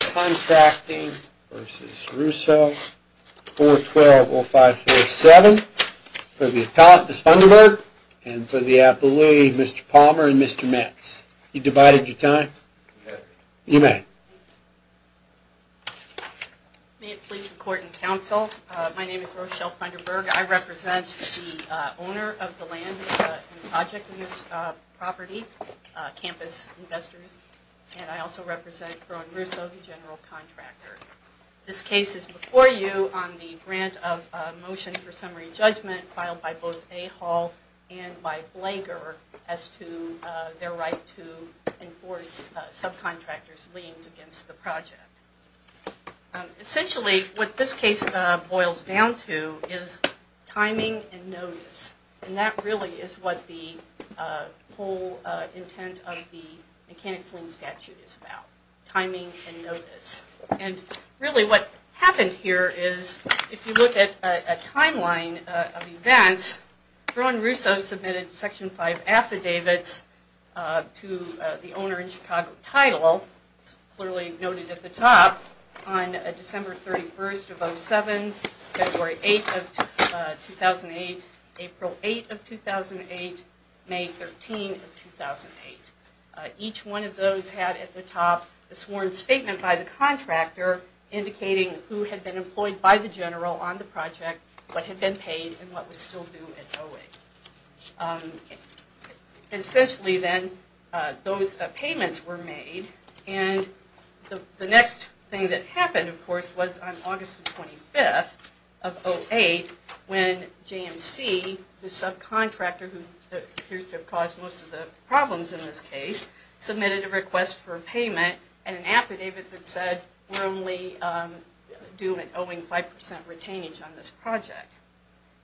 Contracting v. Russo, 412-0547. For the appellant, Ms. Funderburg, and for the appellee, Mr. Palmer and Mr. Metz. You divided your time? Yes. You may. May it please the Court and Counsel, my name is Rochelle Funderburg. I represent the owner of the land and project in this property, Campus Investors, and I also represent Broeren Russo, the general contractor. This case is before you on the grant of motion for summary judgment filed by both A-Hall and by Blager as to their right to enforce subcontractors' liens against the project. Essentially, what this case boils down to is timing and notice, and that really is what the whole intent of the Mechanics' Lien Statute is about, timing and notice. And really what happened here is, if you look at a timeline of events, Broeren Russo submitted Section 5 affidavits to the owner in Chicago title, clearly noted at the top, on December 31st of 2007, February 8th of 2008, April 8th of 2008, May 13th of 2008. Each one of those had at the top a sworn statement by the contractor indicating who had been employed by the general on the project, what had been paid, and what was still due at O-8. Essentially, then, those payments were made, and the next thing that happened, of course, was on August 25th of 2008 when JMC, the subcontractor who appears to have caused most of the problems in this case, submitted a request for payment and an affidavit that said we're only due at O-8 5% retainage on this project.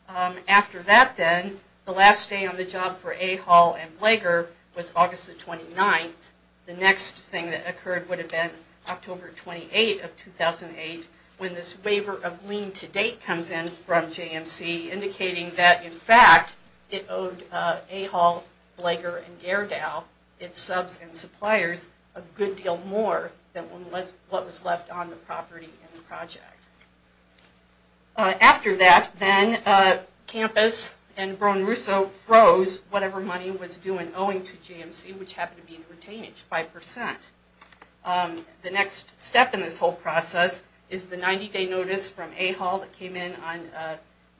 After that, then, the last day on the job for A-Hall and Blager was August the 29th. The next thing that occurred would have been October 28th of 2008, when this waiver of lien to date comes in from JMC indicating that, in fact, it owed A-Hall, Blager, and Gairdow, its subs and suppliers, a good deal more than what was left on the property in the project. After that, then, Campus and Brown-Russo froze whatever money was due in owing to JMC, which happened to be in retainage, 5%. The next step in this whole process is the 90-day notice from A-Hall that came in on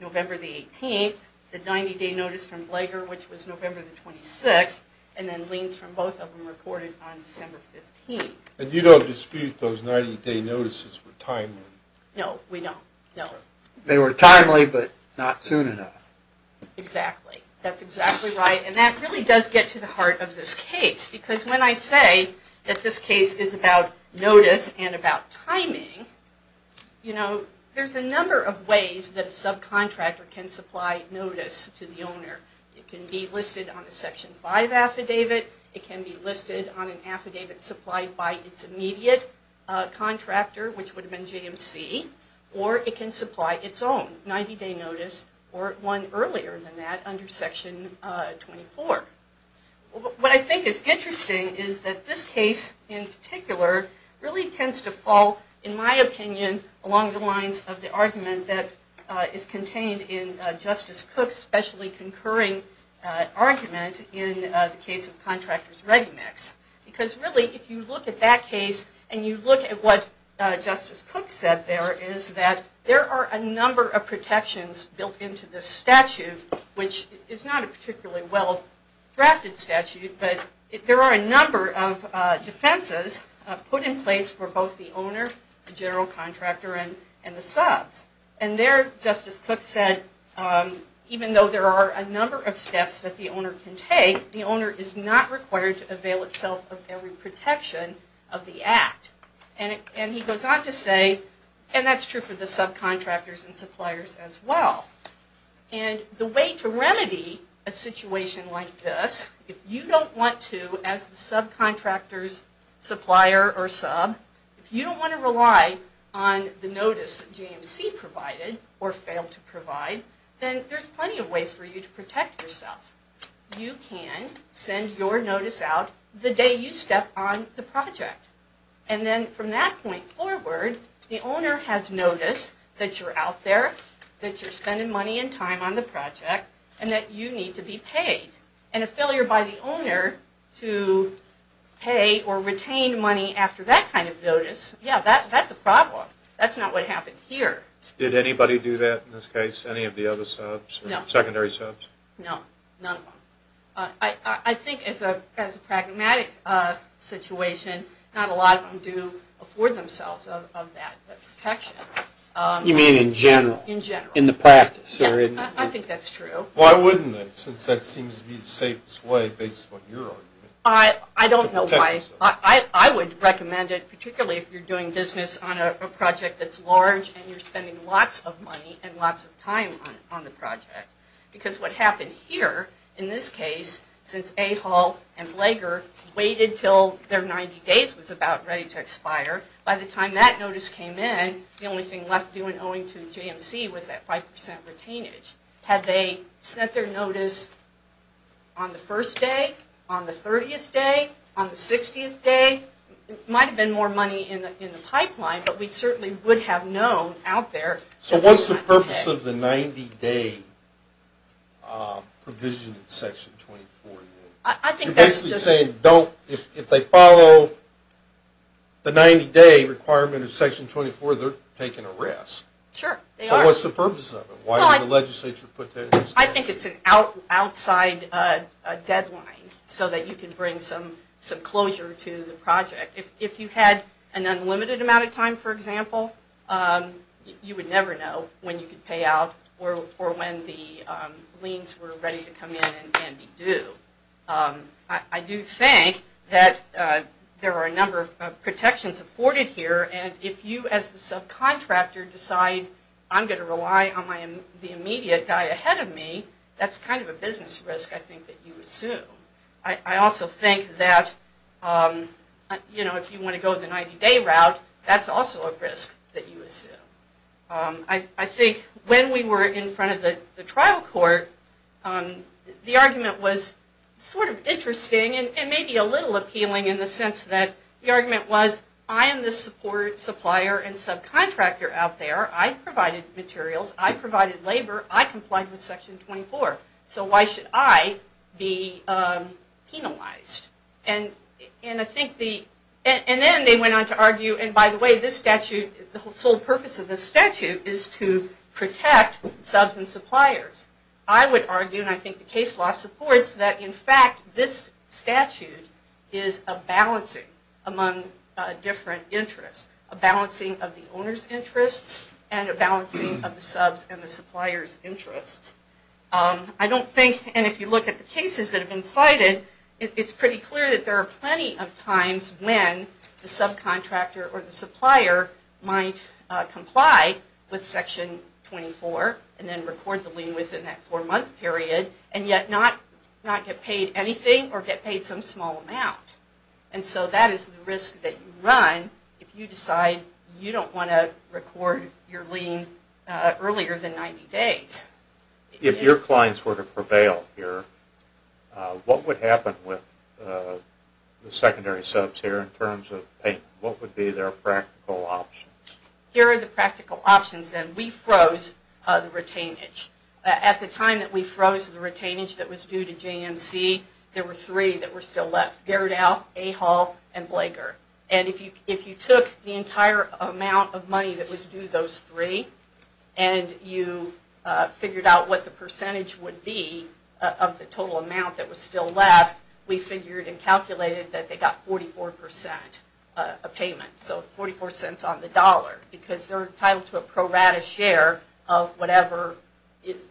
November the 18th, the 90-day notice from Blager, which was November the 26th, and then liens from both of them reported on December 15th. And you don't dispute those 90-day notices were timely? No, we don't. No. They were timely, but not soon enough. Exactly. That's exactly right, and that really does get to the heart of this case, because when I say that this case is about notice and about timing, you know, there's a number of ways that a subcontractor can supply notice to the owner. It can be listed on a Section 5 affidavit. It can be listed on an affidavit supplied by its immediate contractor, which would have been JMC, or it can supply its own 90-day notice or one earlier than that under Section 24. What I think is interesting is that this case in particular really tends to fall, in my opinion, along the lines of the argument that is contained in Justice Cook's specially concurring argument in the case of Contractor's Ready Mix. Because really, if you look at that case, and you look at what Justice Cook said there, is that there are a number of protections built into this statute, which is not a particularly well-drafted statute, but there are a number of defenses put in place for both the owner, the general contractor, and the subs. And there, Justice Cook said, even though there are a number of steps that the owner can take, the owner is not required to avail itself of every protection of the Act. And he goes on to say, and that's true for the subcontractors and suppliers as well, and the way to remedy a situation like this, if you don't want to, as the subcontractor's supplier or sub, if you don't want to rely on the notice that JMC provided or failed to provide, then there's plenty of ways for you to protect yourself. You can send your notice out the day you step on the project. And then from that point forward, the owner has noticed that you're out there, that you're spending money and time on the project, and that you need to be paid. And a failure by the owner to pay or retain money after that kind of notice, yeah, that's a problem. That's not what happened here. Did anybody do that in this case? Any of the other subs? No. Secondary subs? No, none of them. I think as a pragmatic situation, not a lot of them do afford themselves of that protection. You mean in general? In general. In the practice? Yeah, I think that's true. Why wouldn't they, since that seems to be the safest way, based on your argument? I don't know why. I would recommend it, particularly if you're doing business on a project that's large and you're spending lots of money and lots of time on the project. Because what happened here, in this case, since A-Hall and Blager waited until their 90 days was about ready to expire, by the time that notice came in, the only thing left due and owing to JMC was that 5% retainage. Had they sent their notice on the first day, on the 30th day, on the 60th day, might have been more money in the pipeline, but we certainly would have known out there. So what's the purpose of the 90-day provision in Section 24? You're basically saying if they follow the 90-day requirement in Section 24, they're taking a risk. Sure, they are. So what's the purpose of it? Why would the legislature put that in the statute? I think it's an outside deadline so that you can bring some closure to the project. If you had an unlimited amount of time, for example, you would never know when you could pay out or when the liens were ready to come in and be due. I do think that there are a number of protections afforded here, and if you as the subcontractor decide I'm going to rely on the immediate guy ahead of me, that's kind of a business risk, I think, that you assume. I also think that if you want to go the 90-day route, that's also a risk that you assume. I think when we were in front of the trial court, the argument was sort of interesting and maybe a little appealing in the sense that the argument was I am the support supplier and subcontractor out there. I provided materials. I provided labor. I complied with Section 24. So why should I be penalized? And then they went on to argue, and by the way, this statute, the sole purpose of this statute is to protect subs and suppliers. I would argue, and I think the case law supports, that in fact this statute is a balancing among different interests, a balancing of the owner's interests and a balancing of the subs and the supplier's interests. I don't think, and if you look at the cases that have been cited, it's pretty clear that there are plenty of times when the subcontractor or the supplier might comply with Section 24 and then record the lien within that four-month period and yet not get paid anything or get paid some small amount. And so that is the risk that you run if you decide you don't want to record your lien earlier than 90 days. If your clients were to prevail here, what would happen with the secondary subs here in terms of payment? What would be their practical options? Here are the practical options, then. We froze the retainage. At the time that we froze the retainage that was due to JMC, there were three that were still left, Gerdau, A-Hall, and Blager. And if you took the entire amount of money that was due to those three and you figured out what the percentage would be of the total amount that was still left, we figured and calculated that they got 44% of payment, so 44 cents on the dollar, because they're entitled to a pro rata share of whatever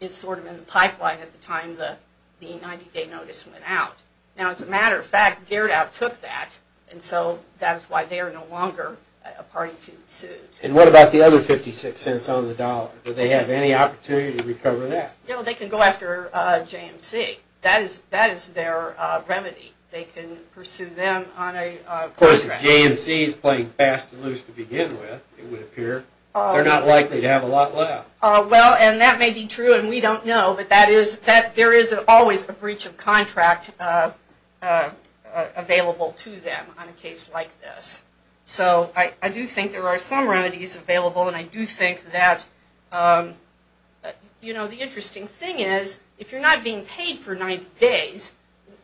is sort of in the pipeline at the time the 90-day notice went out. Now, as a matter of fact, Gerdau took that, and so that is why they are no longer a party to the suit. And what about the other 56 cents on the dollar? Do they have any opportunity to recover that? No, they can go after JMC. That is their remedy. They can pursue them on a contract. Of course, if JMC is playing fast and loose to begin with, it would appear, they're not likely to have a lot left. Well, and that may be true, and we don't know, but there is always a breach of contract available to them on a case like this. So I do think there are some remedies available, and I do think that, you know, the interesting thing is, if you're not being paid for 90 days,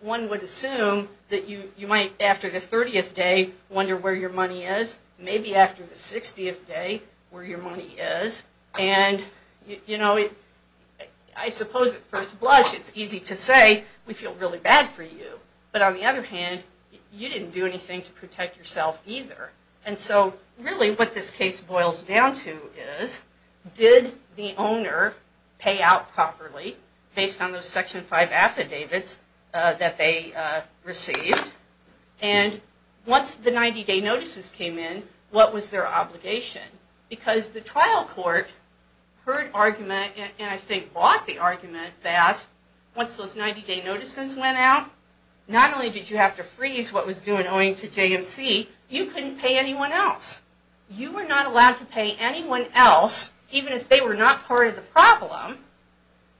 one would assume that you might, after the 30th day, wonder where your money is, maybe after the 60th day, where your money is. And, you know, I suppose at first blush, it's easy to say, we feel really bad for you, but on the other hand, you didn't do anything to protect yourself either. And so, really what this case boils down to is, did the owner pay out properly, based on those Section 5 affidavits that they received, and once the 90 day notices came in, what was their obligation? Because the trial court heard argument, and I think bought the argument, that once those 90 day notices went out, not only did you have to freeze what was due and owing to JMC, you couldn't pay anyone else. You were not allowed to pay anyone else, even if they were not part of the problem,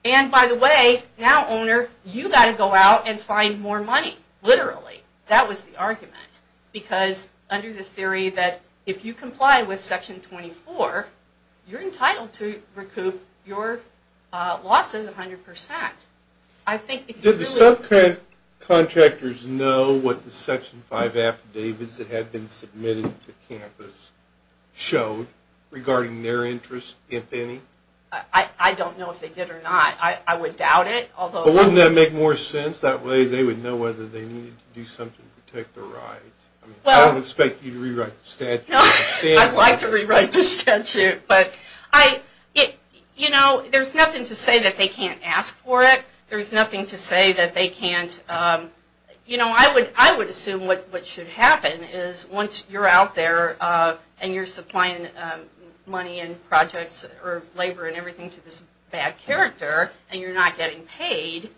and by the way, now owner, you've got to go out and find more money, literally. That was the argument, because under the theory that if you comply with Section 24, you're entitled to recoup your losses 100%. I think if you do... Did the subcontractors know what the Section 5 affidavits that had been submitted to campus showed regarding their interest, if any? I don't know if they did or not. I would doubt it. But wouldn't that make more sense? That way they would know whether they needed to do something to protect their rights. I don't expect you to rewrite the statute. I'd like to rewrite the statute, but there's nothing to say that they can't ask for it. There's nothing to say that they can't... I would assume what should happen is once you're out there and you're supplying money and projects or labor and everything to this bad character, and you're not getting paid,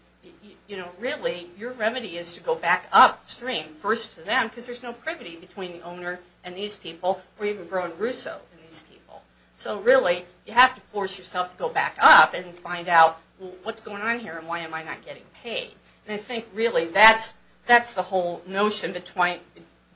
really your remedy is to go back upstream, first to them, because there's no privity between the owner and these people, or even Bruno Russo and these people. So really, you have to force yourself to go back up and find out, well, what's going on here and why am I not getting paid? I think really that's the whole notion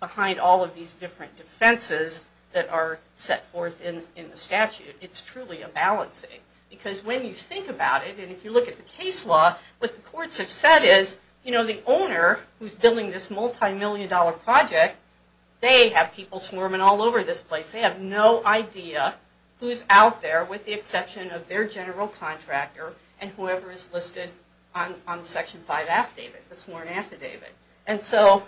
behind all of these different defenses that are set forth in the statute. It's truly a balancing. Because when you think about it, and if you look at the case law, what the courts have said is, you know, the owner who's building this multi-million dollar project, they have people swarming all over this place. They have no idea who's out there with the exception of their general contractor and whoever is listed on the Section 5 affidavit, the sworn affidavit. So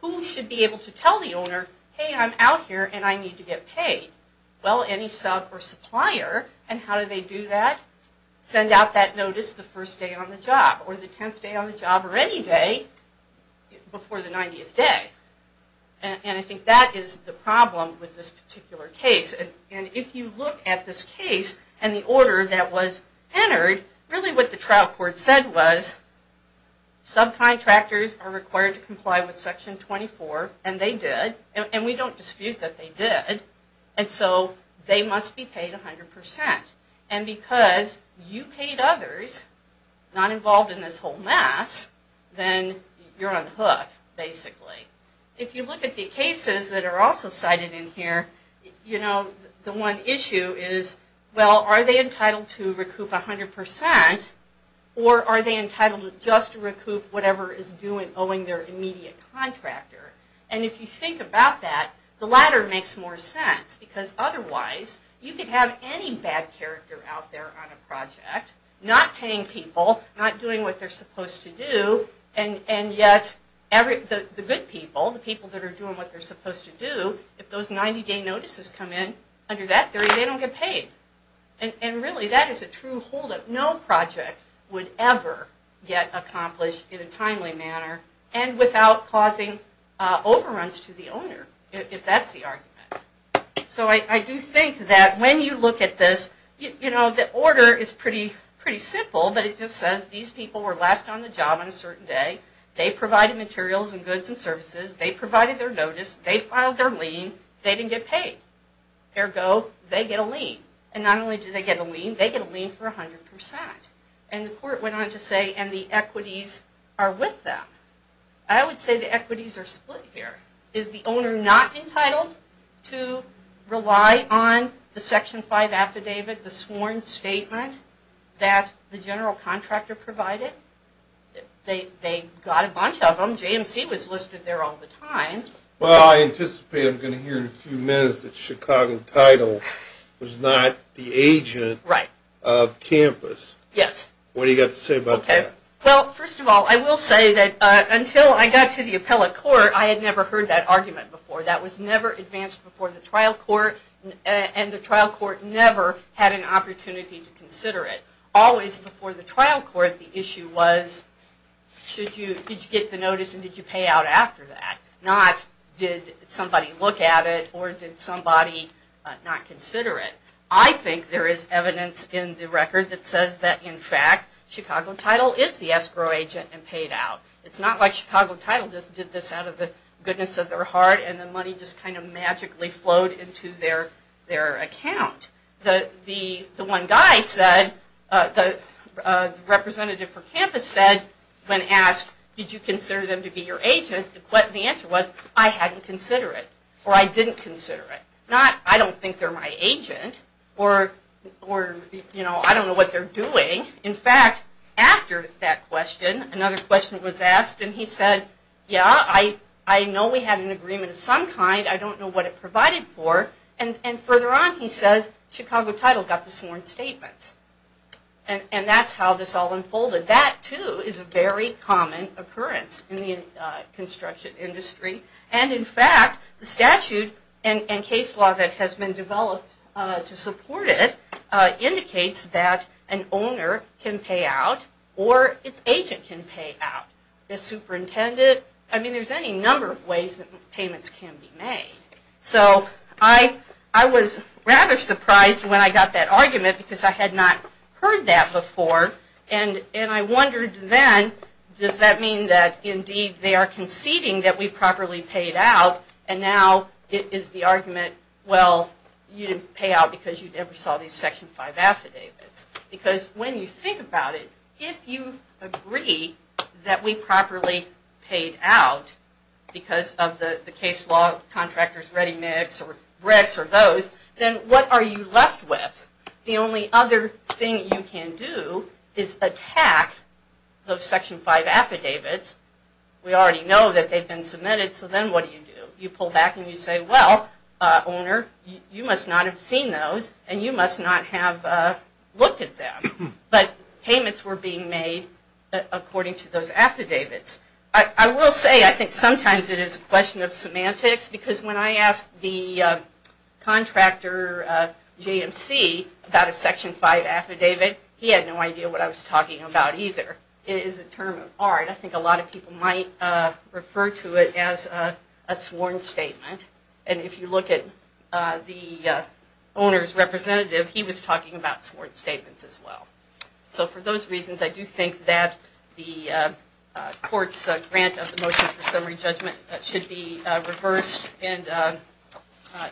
who should be able to tell the owner, hey, I'm out here and I need to get paid? Well, any sub or supplier. And how do they do that? Send out that notice the first day on the job, or the 10th day on the job, or any day before the 90th day. And I think that is the problem with this particular case. And if you look at this case and the order that was entered, really what the trial court said was, subcontractors are required to comply with Section 24. And they did. And we don't dispute that they did. And so they must be paid 100%. And because you paid others, not involved in this whole mess, then you're unhooked, basically. If you look at the cases that are also cited in here, you know, the one issue is, well, are they entitled to recoup 100%? Or are they entitled to just recoup whatever is due in owing their immediate contractor? And if you think about that, the latter makes more sense. Because otherwise, you could have any bad character out there on a project, not paying people, not doing what they're supposed to do, and yet the good people, the people that are doing what they're supposed to do, if those 90-day notices come in under that, they don't get paid. And really, that is a true holdup. No project would ever get accomplished in a timely manner and without causing overruns to the owner, if that's the argument. So I do think that when you look at this, you know, the order is pretty simple, but it just says these people were last on the job on a certain day, they provided materials and goods and services, they provided their notice, they filed their lien, they didn't get paid. Ergo, they get a lien. And not only do they get a lien, they get a lien for 100%. And the court went on to say, and the equities are with them. I would say the equities are split here. Is the owner not entitled to rely on the Section 5 affidavit, the sworn statement that the general contractor provided? They got a bunch of them. JMC was listed there all the time. Well, I anticipate I'm going to hear in a few minutes that Chicago Title was not the agent of Campus. Yes. What do you have to say about that? Well, first of all, I will say that until I got to the appellate court, I had never heard that argument before. That was never advanced before the trial court, and the trial court never had an opportunity to consider it. Always before the trial court, the issue was, did you get the notice and did you pay out after that? Not, did somebody look at it or did somebody not consider it? I think there is evidence in the record that says that, in fact, Chicago Title is the escrow agent and paid out. It's not like Chicago Title just did this out of the goodness of their heart and the money just kind of magically flowed into their account. The one guy said, the representative for Campus said, when asked, did you consider them to be your agent? The answer was, I hadn't considered it or I didn't consider it. Not, I don't think they're my agent or I don't know what they're doing. In fact, after that question, another question was asked and he said, yeah, I know we had an agreement of some kind. I don't know what it provided for. And further on he says, Chicago Title got the sworn statement. And that's how this all unfolded. And that, too, is a very common occurrence in the construction industry. And, in fact, the statute and case law that has been developed to support it indicates that an owner can pay out or its agent can pay out. The superintendent, I mean, there's any number of ways that payments can be made. So I was rather surprised when I got that argument because I had not heard that before and I wondered then, does that mean that, indeed, they are conceding that we properly paid out and now it is the argument, well, you didn't pay out because you never saw these Section 5 affidavits. Because when you think about it, if you agree that we properly paid out because of the case law contractors, ReadyMix or Brex or those, then what are you left with? The only other thing you can do is attack those Section 5 affidavits. We already know that they've been submitted, so then what do you do? You pull back and you say, well, owner, you must not have seen those and you must not have looked at them. But payments were being made according to those affidavits. I will say I think sometimes it is a question of semantics because when I asked the contractor JMC about a Section 5 affidavit, he had no idea what I was talking about either. It is a term of art. I think a lot of people might refer to it as a sworn statement. And if you look at the owner's representative, he was talking about sworn statements as well. So for those reasons, I do think that the court's grant of the motion for summary judgment should be reversed and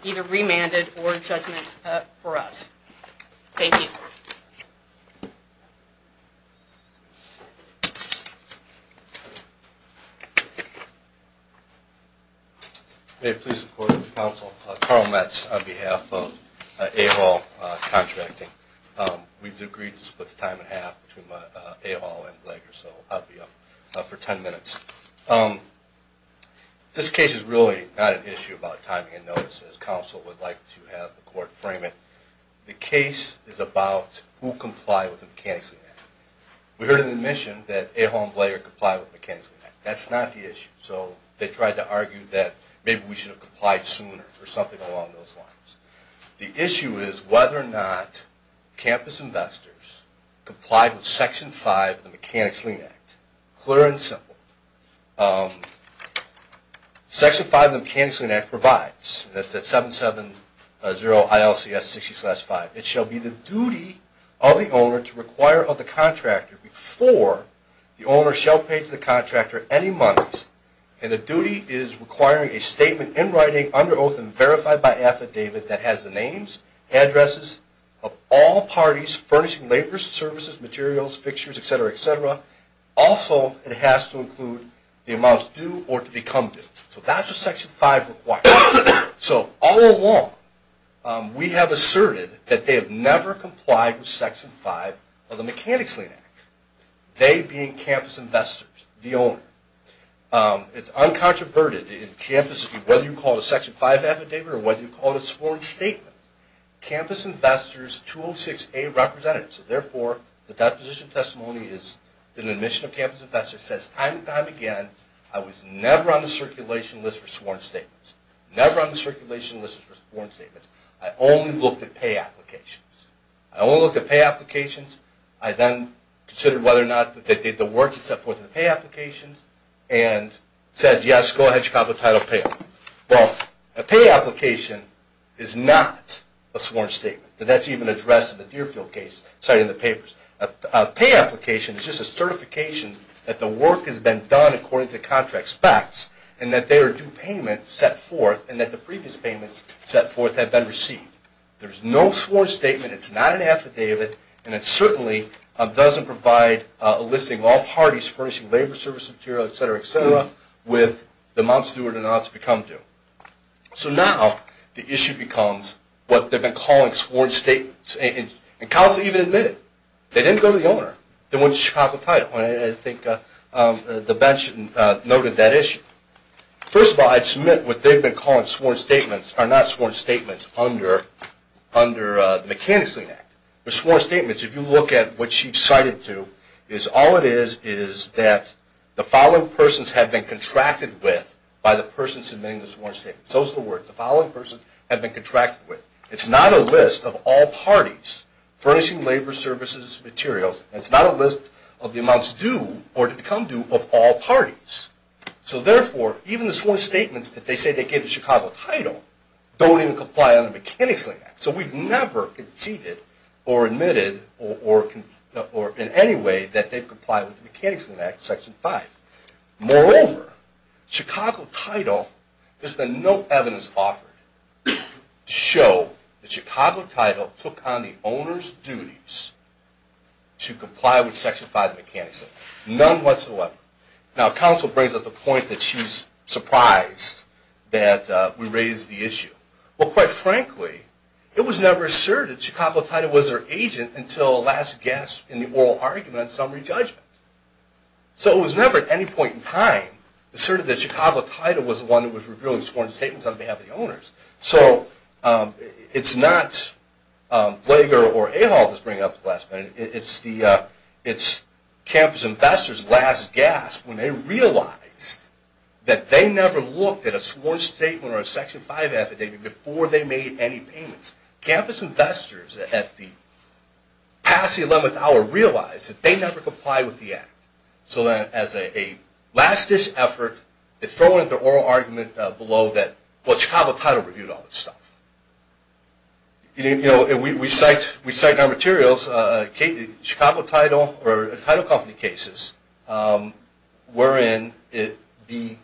either remanded or a judgment for us. Thank you. May it please the Court and the Council. Carl Metz on behalf of A-Hall Contracting. We've agreed to split the time in half between A-Hall and Glegor, so I'll be up for 10 minutes. This case is really not an issue about timing and notices. The Council would like to have the Court frame it. The case is about who complied with the Mechanics' Lien Act. We heard an admission that A-Hall and Glegor complied with the Mechanics' Lien Act. That's not the issue. So they tried to argue that maybe we should have complied sooner or something along those lines. The issue is whether or not campus investors complied with Section 5 of the Mechanics' Lien Act. Clear and simple. Section 5 of the Mechanics' Lien Act provides, that's at 770-ILCS-60-5, it shall be the duty of the owner to require of the contractor before the owner shall pay to the contractor any monies. And the duty is requiring a statement in writing under oath and verified by affidavit that has the names, addresses of all parties furnishing labors, services, materials, fixtures, etc., etc. Also, it has to include the amounts due or to become due. So that's what Section 5 requires. So all along, we have asserted that they have never complied with Section 5 of the Mechanics' Lien Act, they being campus investors, the owner. It's uncontroverted in campus, whether you call it a Section 5 affidavit or whether you call it a sworn statement. Campus investors, 206A represented. So therefore, the deposition testimony is an admission of campus investors, says time and time again, I was never on the circulation list for sworn statements. Never on the circulation list for sworn statements. I only looked at pay applications. I only looked at pay applications. I then considered whether or not they did the work to set forth the pay applications and said, yes, go ahead, Chicago Title Pay. Well, a pay application is not a sworn statement. That's even addressed in the Deerfield case cited in the papers. A pay application is just a certification that the work has been done according to contract specs and that there are due payments set forth and that the previous payments set forth have been received. There's no sworn statement. It's not an affidavit, and it certainly doesn't provide a listing of all parties furnishing labor service material, et cetera, et cetera, with the amounts due or denounced if you come to. So now the issue becomes what they've been calling sworn statements. And Council even admitted they didn't go to the owner. They went to Chicago Title. And I think the bench noted that issue. First of all, I'd submit what they've been calling sworn statements are not sworn statements under the Mechanics Lien Act. The sworn statements, if you look at what she cited to, is all it is is that the following persons have been contracted with by the person submitting the sworn statement. Those are the words. The following persons have been contracted with. It's not a list of all parties furnishing labor services materials, and it's not a list of the amounts due or to become due of all parties. So therefore, even the sworn statements that they say they gave to Chicago Title don't even comply under the Mechanics Lien Act. So we've never conceded or admitted in any way that they've complied with the Mechanics Lien Act, Section 5. Moreover, Chicago Title, there's been no evidence offered to show that Chicago Title took on the owner's duties to comply with Section 5 of the Mechanics Lien Act, none whatsoever. Now, counsel brings up the point that she's surprised that we raised the issue. Well, quite frankly, it was never asserted Chicago Title was their agent until last guessed in the oral argument on summary judgment. So it was never at any point in time asserted that Chicago Title was the one that was revealing sworn statements on behalf of the owners. So it's not Blager or Ahol that's bringing up the last minute. It's Campus Investors' last gasp when they realized that they never looked at a sworn statement or a Section 5 affidavit before they made any payments. Campus Investors, past the 11th hour, realized that they never complied with the act. So as a last-ditch effort, they throw in their oral argument below that, well, Chicago Title reviewed all this stuff. We cite in our materials Chicago Title or Title Company cases wherein the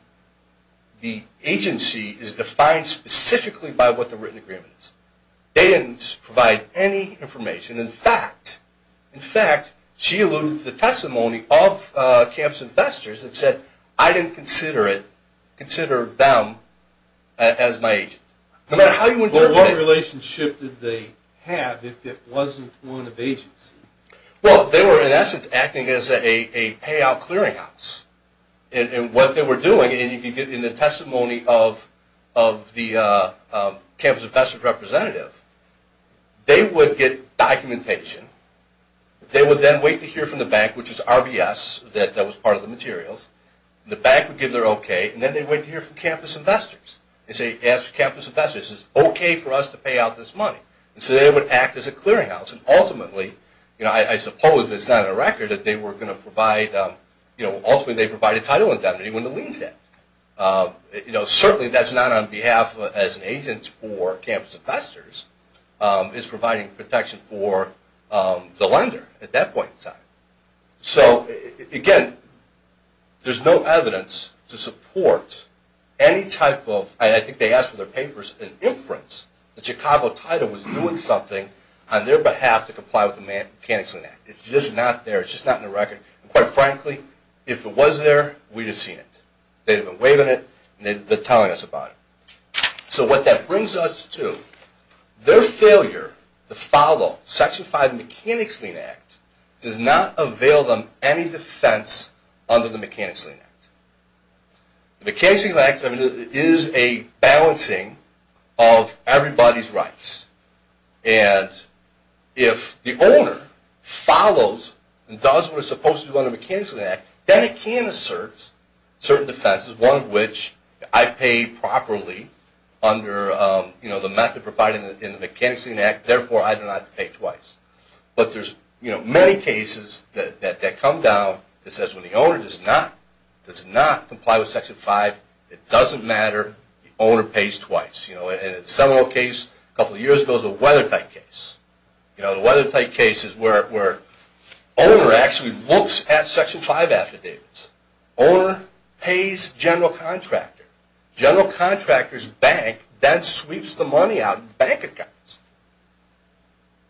agency is defined specifically by what the written agreement is. They didn't provide any information. In fact, she alluded to the testimony of Campus Investors and said, I didn't consider them as my agent. What relationship did they have if it wasn't one of agency? Well, they were, in essence, acting as a payout clearinghouse. And what they were doing, and you can get in the testimony of the Campus Investors representative, they would get documentation. They would then wait to hear from the bank, which is RBS, that was part of the materials. The bank would give their okay, and then they'd wait to hear from Campus Investors and say, ask Campus Investors, is it okay for us to pay out this money? And so they would act as a clearinghouse. And ultimately, I suppose it's not a record that they were going to provide, ultimately they provide a title indemnity when the lien's debt. Certainly that's not on behalf as an agent for Campus Investors. It's providing protection for the lender at that point in time. So, again, there's no evidence to support any type of, I think they asked for their papers, an inference that Chicago Title was doing something on their behalf to comply with the Mechanics Lien Act. It's just not there. It's just not in the record. And quite frankly, if it was there, we'd have seen it. They'd have been waiving it, and they'd have been telling us about it. So what that brings us to, their failure to follow Section 5 of the Mechanics Lien Act does not avail them any defense under the Mechanics Lien Act. The Mechanics Lien Act is a balancing of everybody's rights. And if the owner follows and does what it's supposed to do under the Mechanics Lien Act, then it can assert certain defenses, one of which I pay properly under the method provided in the Mechanics Lien Act, therefore I do not have to pay twice. But there's many cases that come down that says when the owner does not comply with Section 5, it doesn't matter, the owner pays twice. In the Seminole case a couple of years ago, it was a Weathertight case. The Weathertight case is where the owner actually looks at Section 5 affidavits. The owner pays the general contractor. The general contractor's bank then sweeps the money out in bank accounts.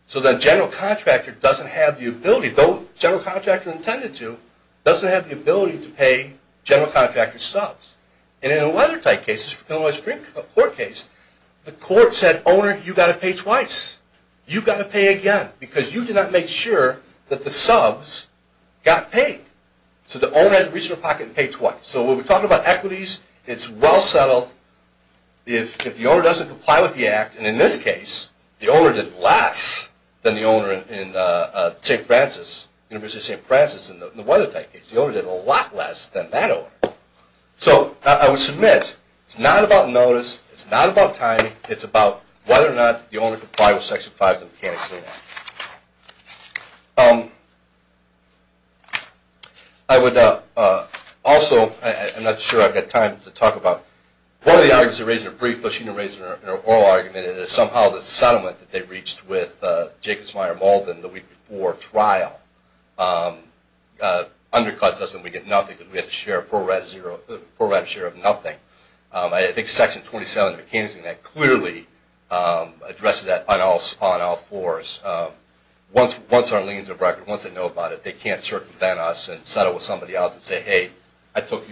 So the general contractor doesn't have the ability, though the general contractor intended to, doesn't have the ability to pay general contractor's subs. And in a Weathertight case, a Supreme Court case, the court said, Owner, you've got to pay twice. You've got to pay again because you did not make sure that the subs got paid. So the owner had to reach into their pocket and pay twice. So when we talk about equities, it's well settled. If the owner doesn't comply with the Act, and in this case, the owner did less than the owner in St. Francis, University of St. Francis in the Weathertight case. The owner did a lot less than that owner. So I would submit it's not about notice. It's not about timing. It's about whether or not the owner complied with Section 5 of the Mechanics-Lena Act. I would also, I'm not sure I've got time to talk about, one of the arguments they raised in their brief, though she didn't raise it in her oral argument, is somehow the settlement that they reached with Jacobs, Meyer, Malden the week before trial undercuts us and we get nothing because we have to share a pro-rata share of nothing. I think Section 27 of the Mechanics-Lena Act clearly addresses that on all fours. Once our liens are broken, once they know about it, they can't circumvent us and settle with somebody else and say, hey, I took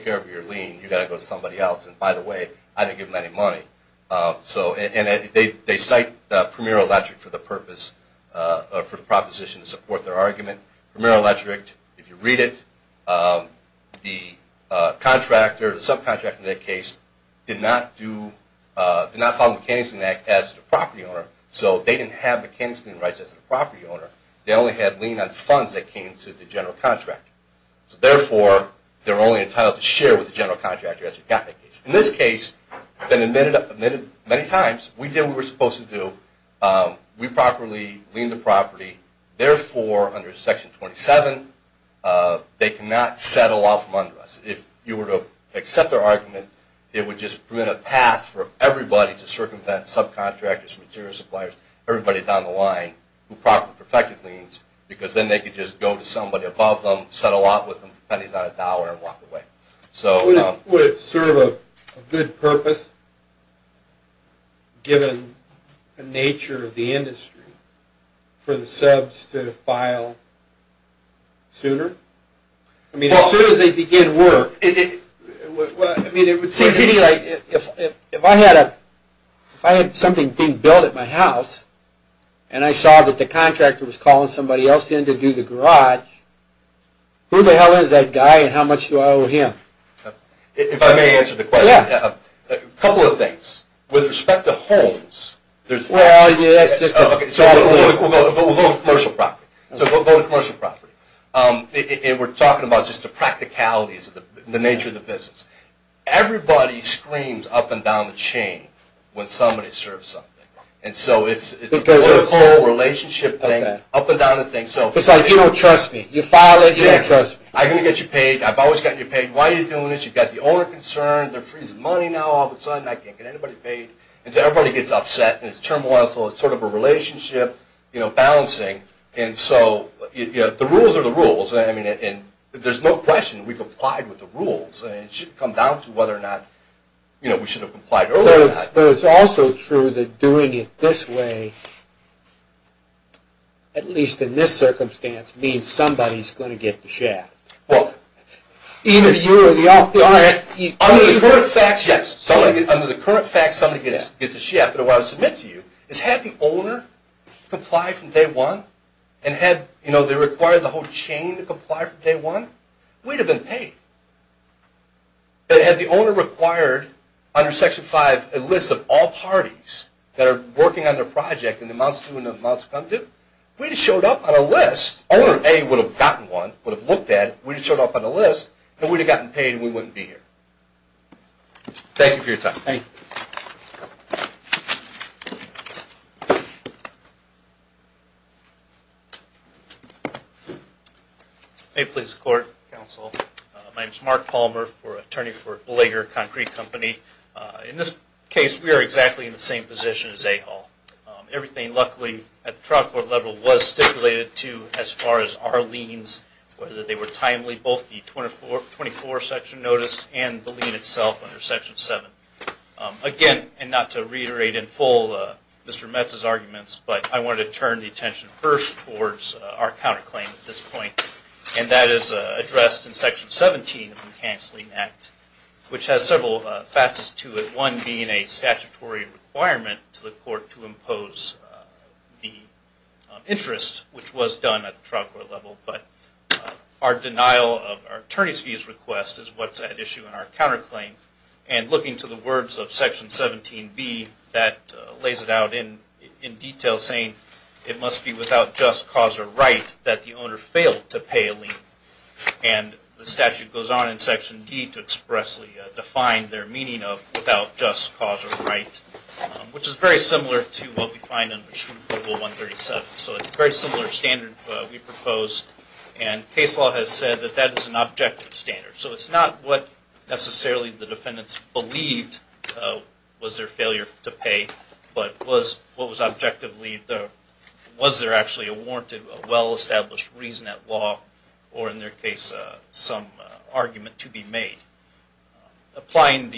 care of your lien. You've got to go to somebody else. And by the way, I didn't give them any money. And they cite Premier Electric for the purpose, for the proposition to support their argument. Premier Electric, if you read it, the contractor, the subcontractor in that case, did not follow the Mechanics-Lena Act as the property owner, so they didn't have Mechanics-Lena rights as the property owner. They only had lien on funds that came to the general contractor. So therefore, they were only entitled to share with the general contractor as it got to the case. In this case, they've been admitted many times. We did what we were supposed to do. We properly liened the property. Therefore, under Section 27, they cannot settle off from under us. If you were to accept their argument, it would just create a path for everybody to circumvent subcontractors, material suppliers, everybody down the line who properly perfected liens, because then they could just go to somebody above them, settle off with them for pennies on a dollar and walk away. Would it serve a good purpose, given the nature of the industry, for the subs to file sooner? I mean, as soon as they begin work. It would seem to me like if I had something being built at my house, and I saw that the contractor was calling somebody else in to do the garage, who the hell is that guy and how much do I owe him? If I may answer the question, a couple of things. With respect to homes, we'll go to commercial property. We're talking about just the practicalities, the nature of the business. Everybody screams up and down the chain when somebody serves something. It's a whole relationship thing, up and down the thing. It's like you don't trust me. You file it and you don't trust me. I'm going to get you paid. I've always gotten you paid. Why are you doing this? You've got the owner concerned. They're freezing money now. All of a sudden, I can't get anybody paid. Everybody gets upset. It's turmoil. It's sort of a relationship balancing. The rules are the rules. There's no question. We complied with the rules. It should come down to whether or not we should have complied earlier. It's also true that doing it this way, at least in this circumstance, means somebody is going to get the shaft. Under the current facts, yes. Under the current facts, somebody gets the shaft. But what I would submit to you is had the owner complied from day one and had they required the whole chain to comply from day one, we'd have been paid. But had the owner required, under Section 5, a list of all parties that are working on their project and the amounts due and the amounts come due, we'd have showed up on a list. Owner A would have gotten one, would have looked at it, we'd have showed up on a list, and we'd have gotten paid and we wouldn't be here. Thank you for your time. Thank you. Thank you. May it please the Court, Counsel. My name is Mark Palmer. I'm an attorney for Blager Concrete Company. In this case, we are exactly in the same position as A-Haul. Everything, luckily, at the trial court level, was stipulated to as far as our liens, whether they were timely, both the 24 section notice and the lien itself under Section 7. Again, and not to reiterate in full Mr. Metz's arguments, but I wanted to turn the attention first towards our counterclaim at this point, and that is addressed in Section 17 of the New Counseling Act, which has several facets to it, one being a statutory requirement to the Court to impose the interest, which was done at the trial court level. But our denial of our attorney's fees request is what's at issue in our counterclaim. And looking to the words of Section 17B, that lays it out in detail saying, it must be without just cause or right that the owner failed to pay a lien. And the statute goes on in Section D to expressly define their meaning of without just cause or right, which is very similar to what we find in Machu Picchu 137. So it's a very similar standard we propose, and case law has said that that is an objective standard. So it's not what necessarily the defendants believed was their failure to pay, but what was objectively, was there actually a warrant of well-established reason at law, or in their case some argument to be made. Applying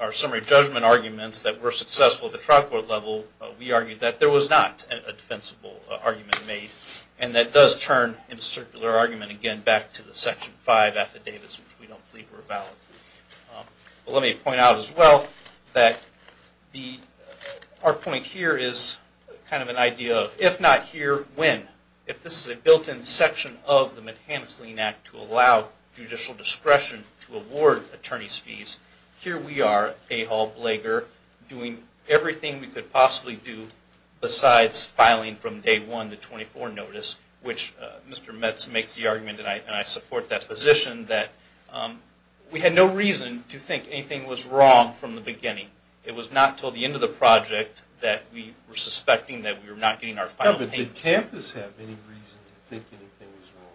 our summary judgment arguments that were successful at the trial court level, we argued that there was not a defensible argument made, and that does turn in a circular argument again back to the Section 5 affidavits, which we don't believe were valid. Let me point out as well, that our point here is kind of an idea of, if not here, when? If this is a built-in section of the McHanus-Lean Act to allow judicial discretion to award attorney's fees, here we are, Ahall Blager, doing everything we could possibly do besides filing from day one the 24 notice, which Mr. Metz makes the argument, and I support that position, that we had no reason to think anything was wrong from the beginning. It was not until the end of the project that we were suspecting that we were not getting our final payments. But did campus have any reason to think anything was wrong?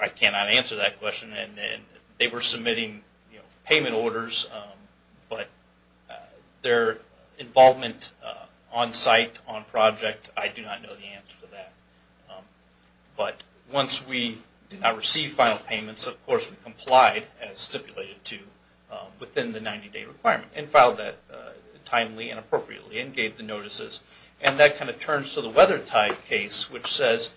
I cannot answer that question. They were submitting payment orders, but their involvement on-site, on-project, I do not know the answer to that. But once we did not receive final payments, of course, we complied as stipulated to within the 90-day requirement, and filed that timely and appropriately, and gave the notices. And that kind of turns to the Weathertide case, which says,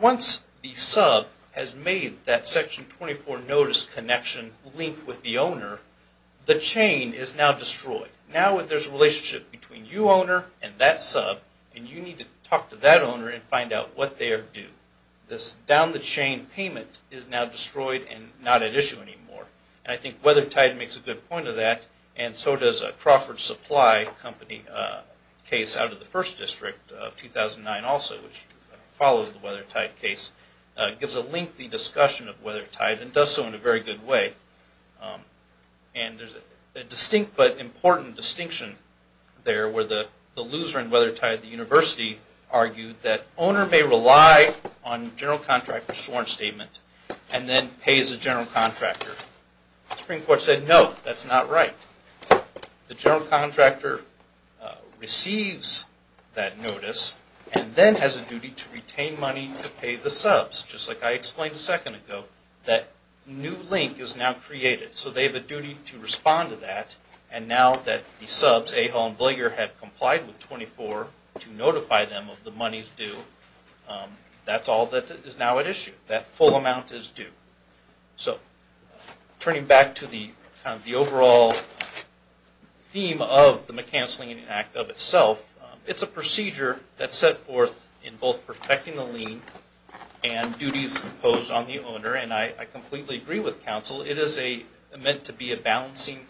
once the sub has made that Section 24 notice connection linked with the sub, the chain is now destroyed. Now there is a relationship between you, owner, and that sub, and you need to talk to that owner and find out what they are due. This down-the-chain payment is now destroyed and not at issue anymore. And I think Weathertide makes a good point of that, and so does Crawford Supply Company case out of the First District of 2009 also, which follows the Weathertide case, gives a lengthy discussion of Weathertide, and does so in a very good way. And there is a distinct but important distinction there, where the loser in Weathertide, the university, argued that owner may rely on general contractor's sworn statement, and then pay as a general contractor. The Supreme Court said, no, that is not right. The general contractor receives that notice, and then has a duty to retain money to pay the subs, just like I explained a second ago, that new link is now created. So they have a duty to respond to that, and now that the subs, Ahol and Blager, have complied with 24 to notify them of the money's due, that's all that is now at issue. That full amount is due. So turning back to the overall theme of the McCancelling Act of itself, it's a procedure that's set forth in both protecting the lien, and duties imposed on the owner, and I completely agree with counsel. It is meant to be a balancing,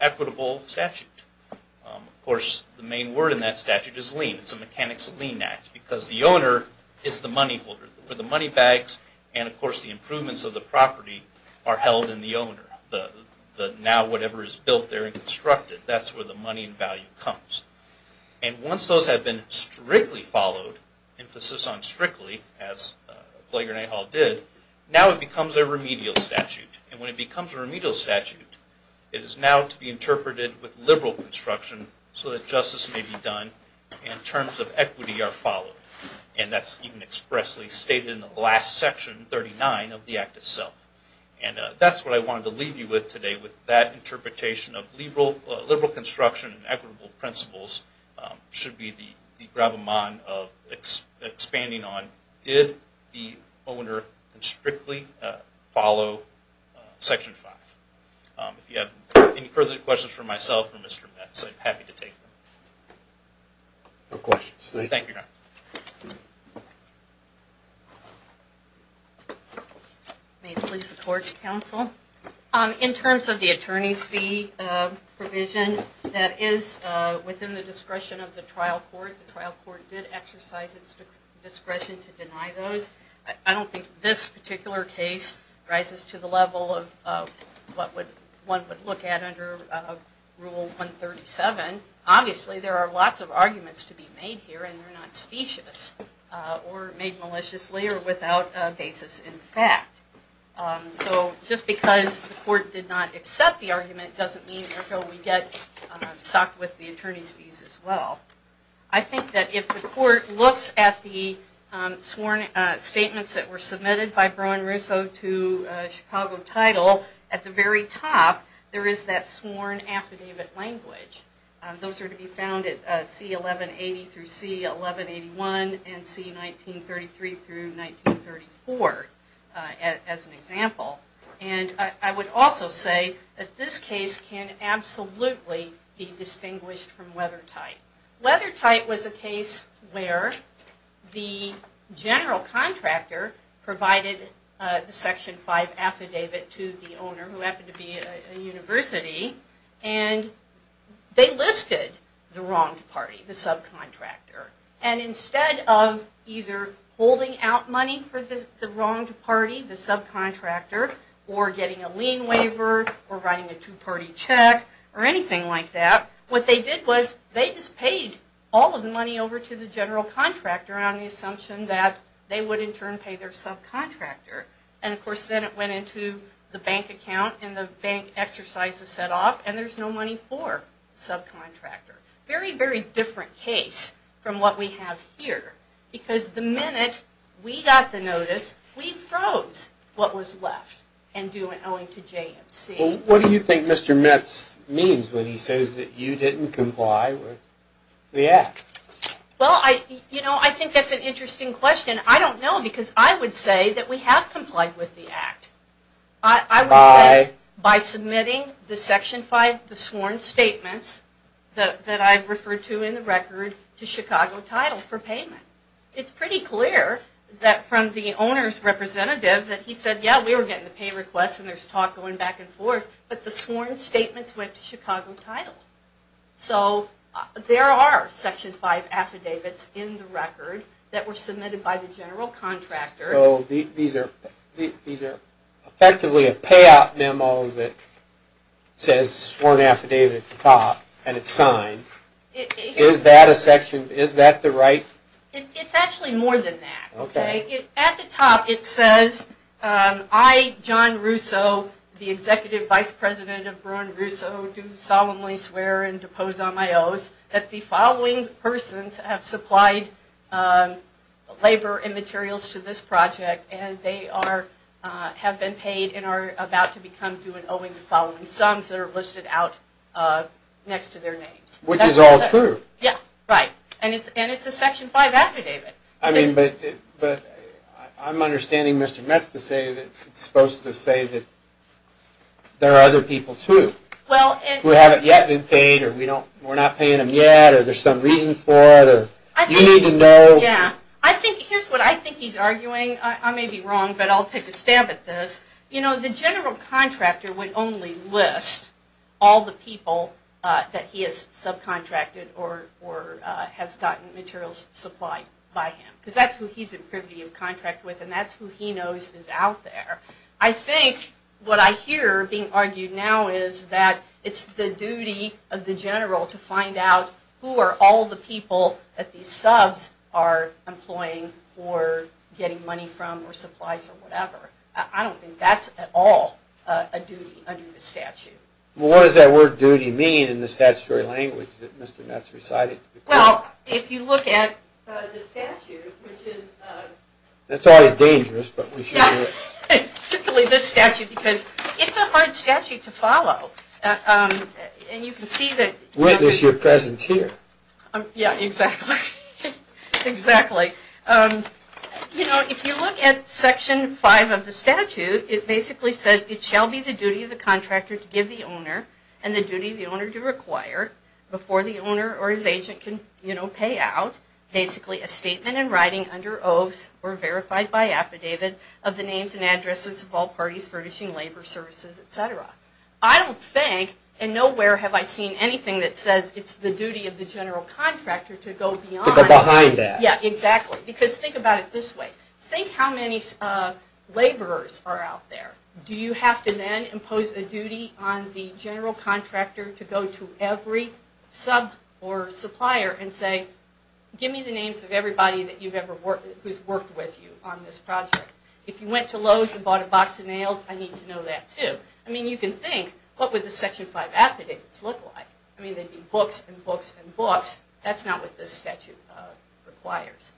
equitable statute. Of course, the main word in that statute is lien. It's a Mechanics of Lien Act, because the owner is the money holder. The money bags, and of course the improvements of the property, Now whatever is built there and constructed, that's where the money and value comes. And once those have been strictly followed, emphasis on strictly, as Blager and Ahol did, now it becomes a remedial statute. And when it becomes a remedial statute, it is now to be interpreted with liberal construction, so that justice may be done, and terms of equity are followed. And that's even expressly stated in the last section, 39, of the Act itself. And that's what I wanted to leave you with today, with that interpretation of liberal construction and equitable principles, should be the gravamon of expanding on, did the owner strictly follow Section 5? If you have any further questions for myself or Mr. Metz, I'm happy to take them. No questions. Thank you, Your Honor. May it please the Court and Counsel, in terms of the attorney's fee provision, that is within the discretion of the trial court. The trial court did exercise its discretion to deny those. I don't think this particular case rises to the level of what one would look at under Rule 137. Obviously there are lots of arguments to be made here, and they're not specious, or made maliciously, or without basis in fact. So just because the court did not accept the argument, doesn't mean that we get sucked with the attorney's fees as well. I think that if the court looks at the sworn statements that were submitted by Browne Russo to Chicago Title, at the very top there is that sworn affidavit language. Those are to be found at C1180-C1181 and C1933-1934. As an example. And I would also say that this case can absolutely be distinguished from Weathertight. Weathertight was a case where the general contractor provided the Section 5 affidavit to the owner, who happened to be a university, and they listed the wronged party, the subcontractor. And instead of either holding out money for the wronged party, the subcontractor, or getting a lien waiver, or writing a two-party check, or anything like that, what they did was they just paid all of the money over to the general contractor on the assumption that they would in turn pay their subcontractor. And of course then it went into the bank account, and the bank exercises set off, and there's no money for the subcontractor. Very, very different case from what we have here. Because the minute we got the notice, we froze what was left. And do it owing to JMC. What do you think Mr. Metz means when he says that you didn't comply with the Act? Well, you know, I think that's an interesting question. I don't know, because I would say that we have complied with the Act. I would say by submitting the Section 5, the sworn statements, that I've referred to in the record, to Chicago Title for payment. It's pretty clear that from the owner's representative that he said, yeah, we were getting the pay requests and there's talk going back and forth, but the sworn statements went to Chicago Title. So there are Section 5 affidavits in the record that were submitted by the general contractor. So these are effectively a payout memo that says sworn affidavit at the top, and it's signed. Is that the right? It's actually more than that. Okay. At the top it says, I, John Russo, the Executive Vice President of Braun Russo, do solemnly swear and depose on my oath that the following persons have supplied labor and materials to this project, and they are, have been paid, and are about to become due in owing the following sums that are listed out next to their names. Which is all true. Yeah, right. And it's a Section 5 affidavit. I mean, but I'm understanding Mr. Metz is supposed to say that there are other people, too, who haven't yet been paid, or we're not paying them yet, or there's some reason for it, or you need to know. Yeah. I think, here's what I think he's arguing. I may be wrong, but I'll take a stab at this. You know, the general contractor would only list all the people that he has subcontracted or has gotten materials supplied by him, because that's who he's in privity of contract with, and that's who he knows is out there. I think what I hear being argued now is that it's the duty of the general to find out who are all the people that these subs are employing or getting money from or supplies or whatever. I don't think that's at all a duty under the statute. Well, what does that word duty mean in the statutory language that Mr. Metz recited? Well, if you look at the statute, which is... That's always dangerous, but we should do it. Particularly this statute, because it's a hard statute to follow. And you can see that... Witness your presence here. Yeah, exactly. Exactly. You know, if you look at Section 5 of the statute, it basically says, it shall be the duty of the contractor to give the owner and the duty of the owner to require, before the owner or his agent can pay out, basically a statement in writing under oath or verified by affidavit of the names and addresses of all parties furnishing labor services, etc. I don't think, and nowhere have I seen anything that says it's the duty of the general contractor to go beyond... To go behind that. Yeah, exactly. Because think about it this way. Think how many laborers are out there. Do you have to then impose a duty on the general contractor to go to every sub or supplier and say, give me the names of everybody who's worked with you on this project? If you went to Lowe's and bought a box of nails, I need to know that too. I mean, you can think, what would the Section 5 affidavits look like? I mean, they'd be books and books and books. That's not what this statute requires.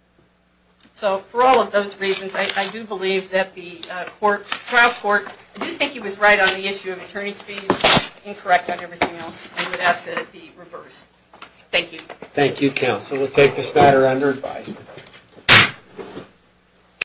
So for all of those reasons, I do believe that the trial court, I do think he was right on the issue of attorney's fees, incorrect on everything else. I would ask that it be reversed. Thank you. Thank you, counsel. We'll take this matter under advisement.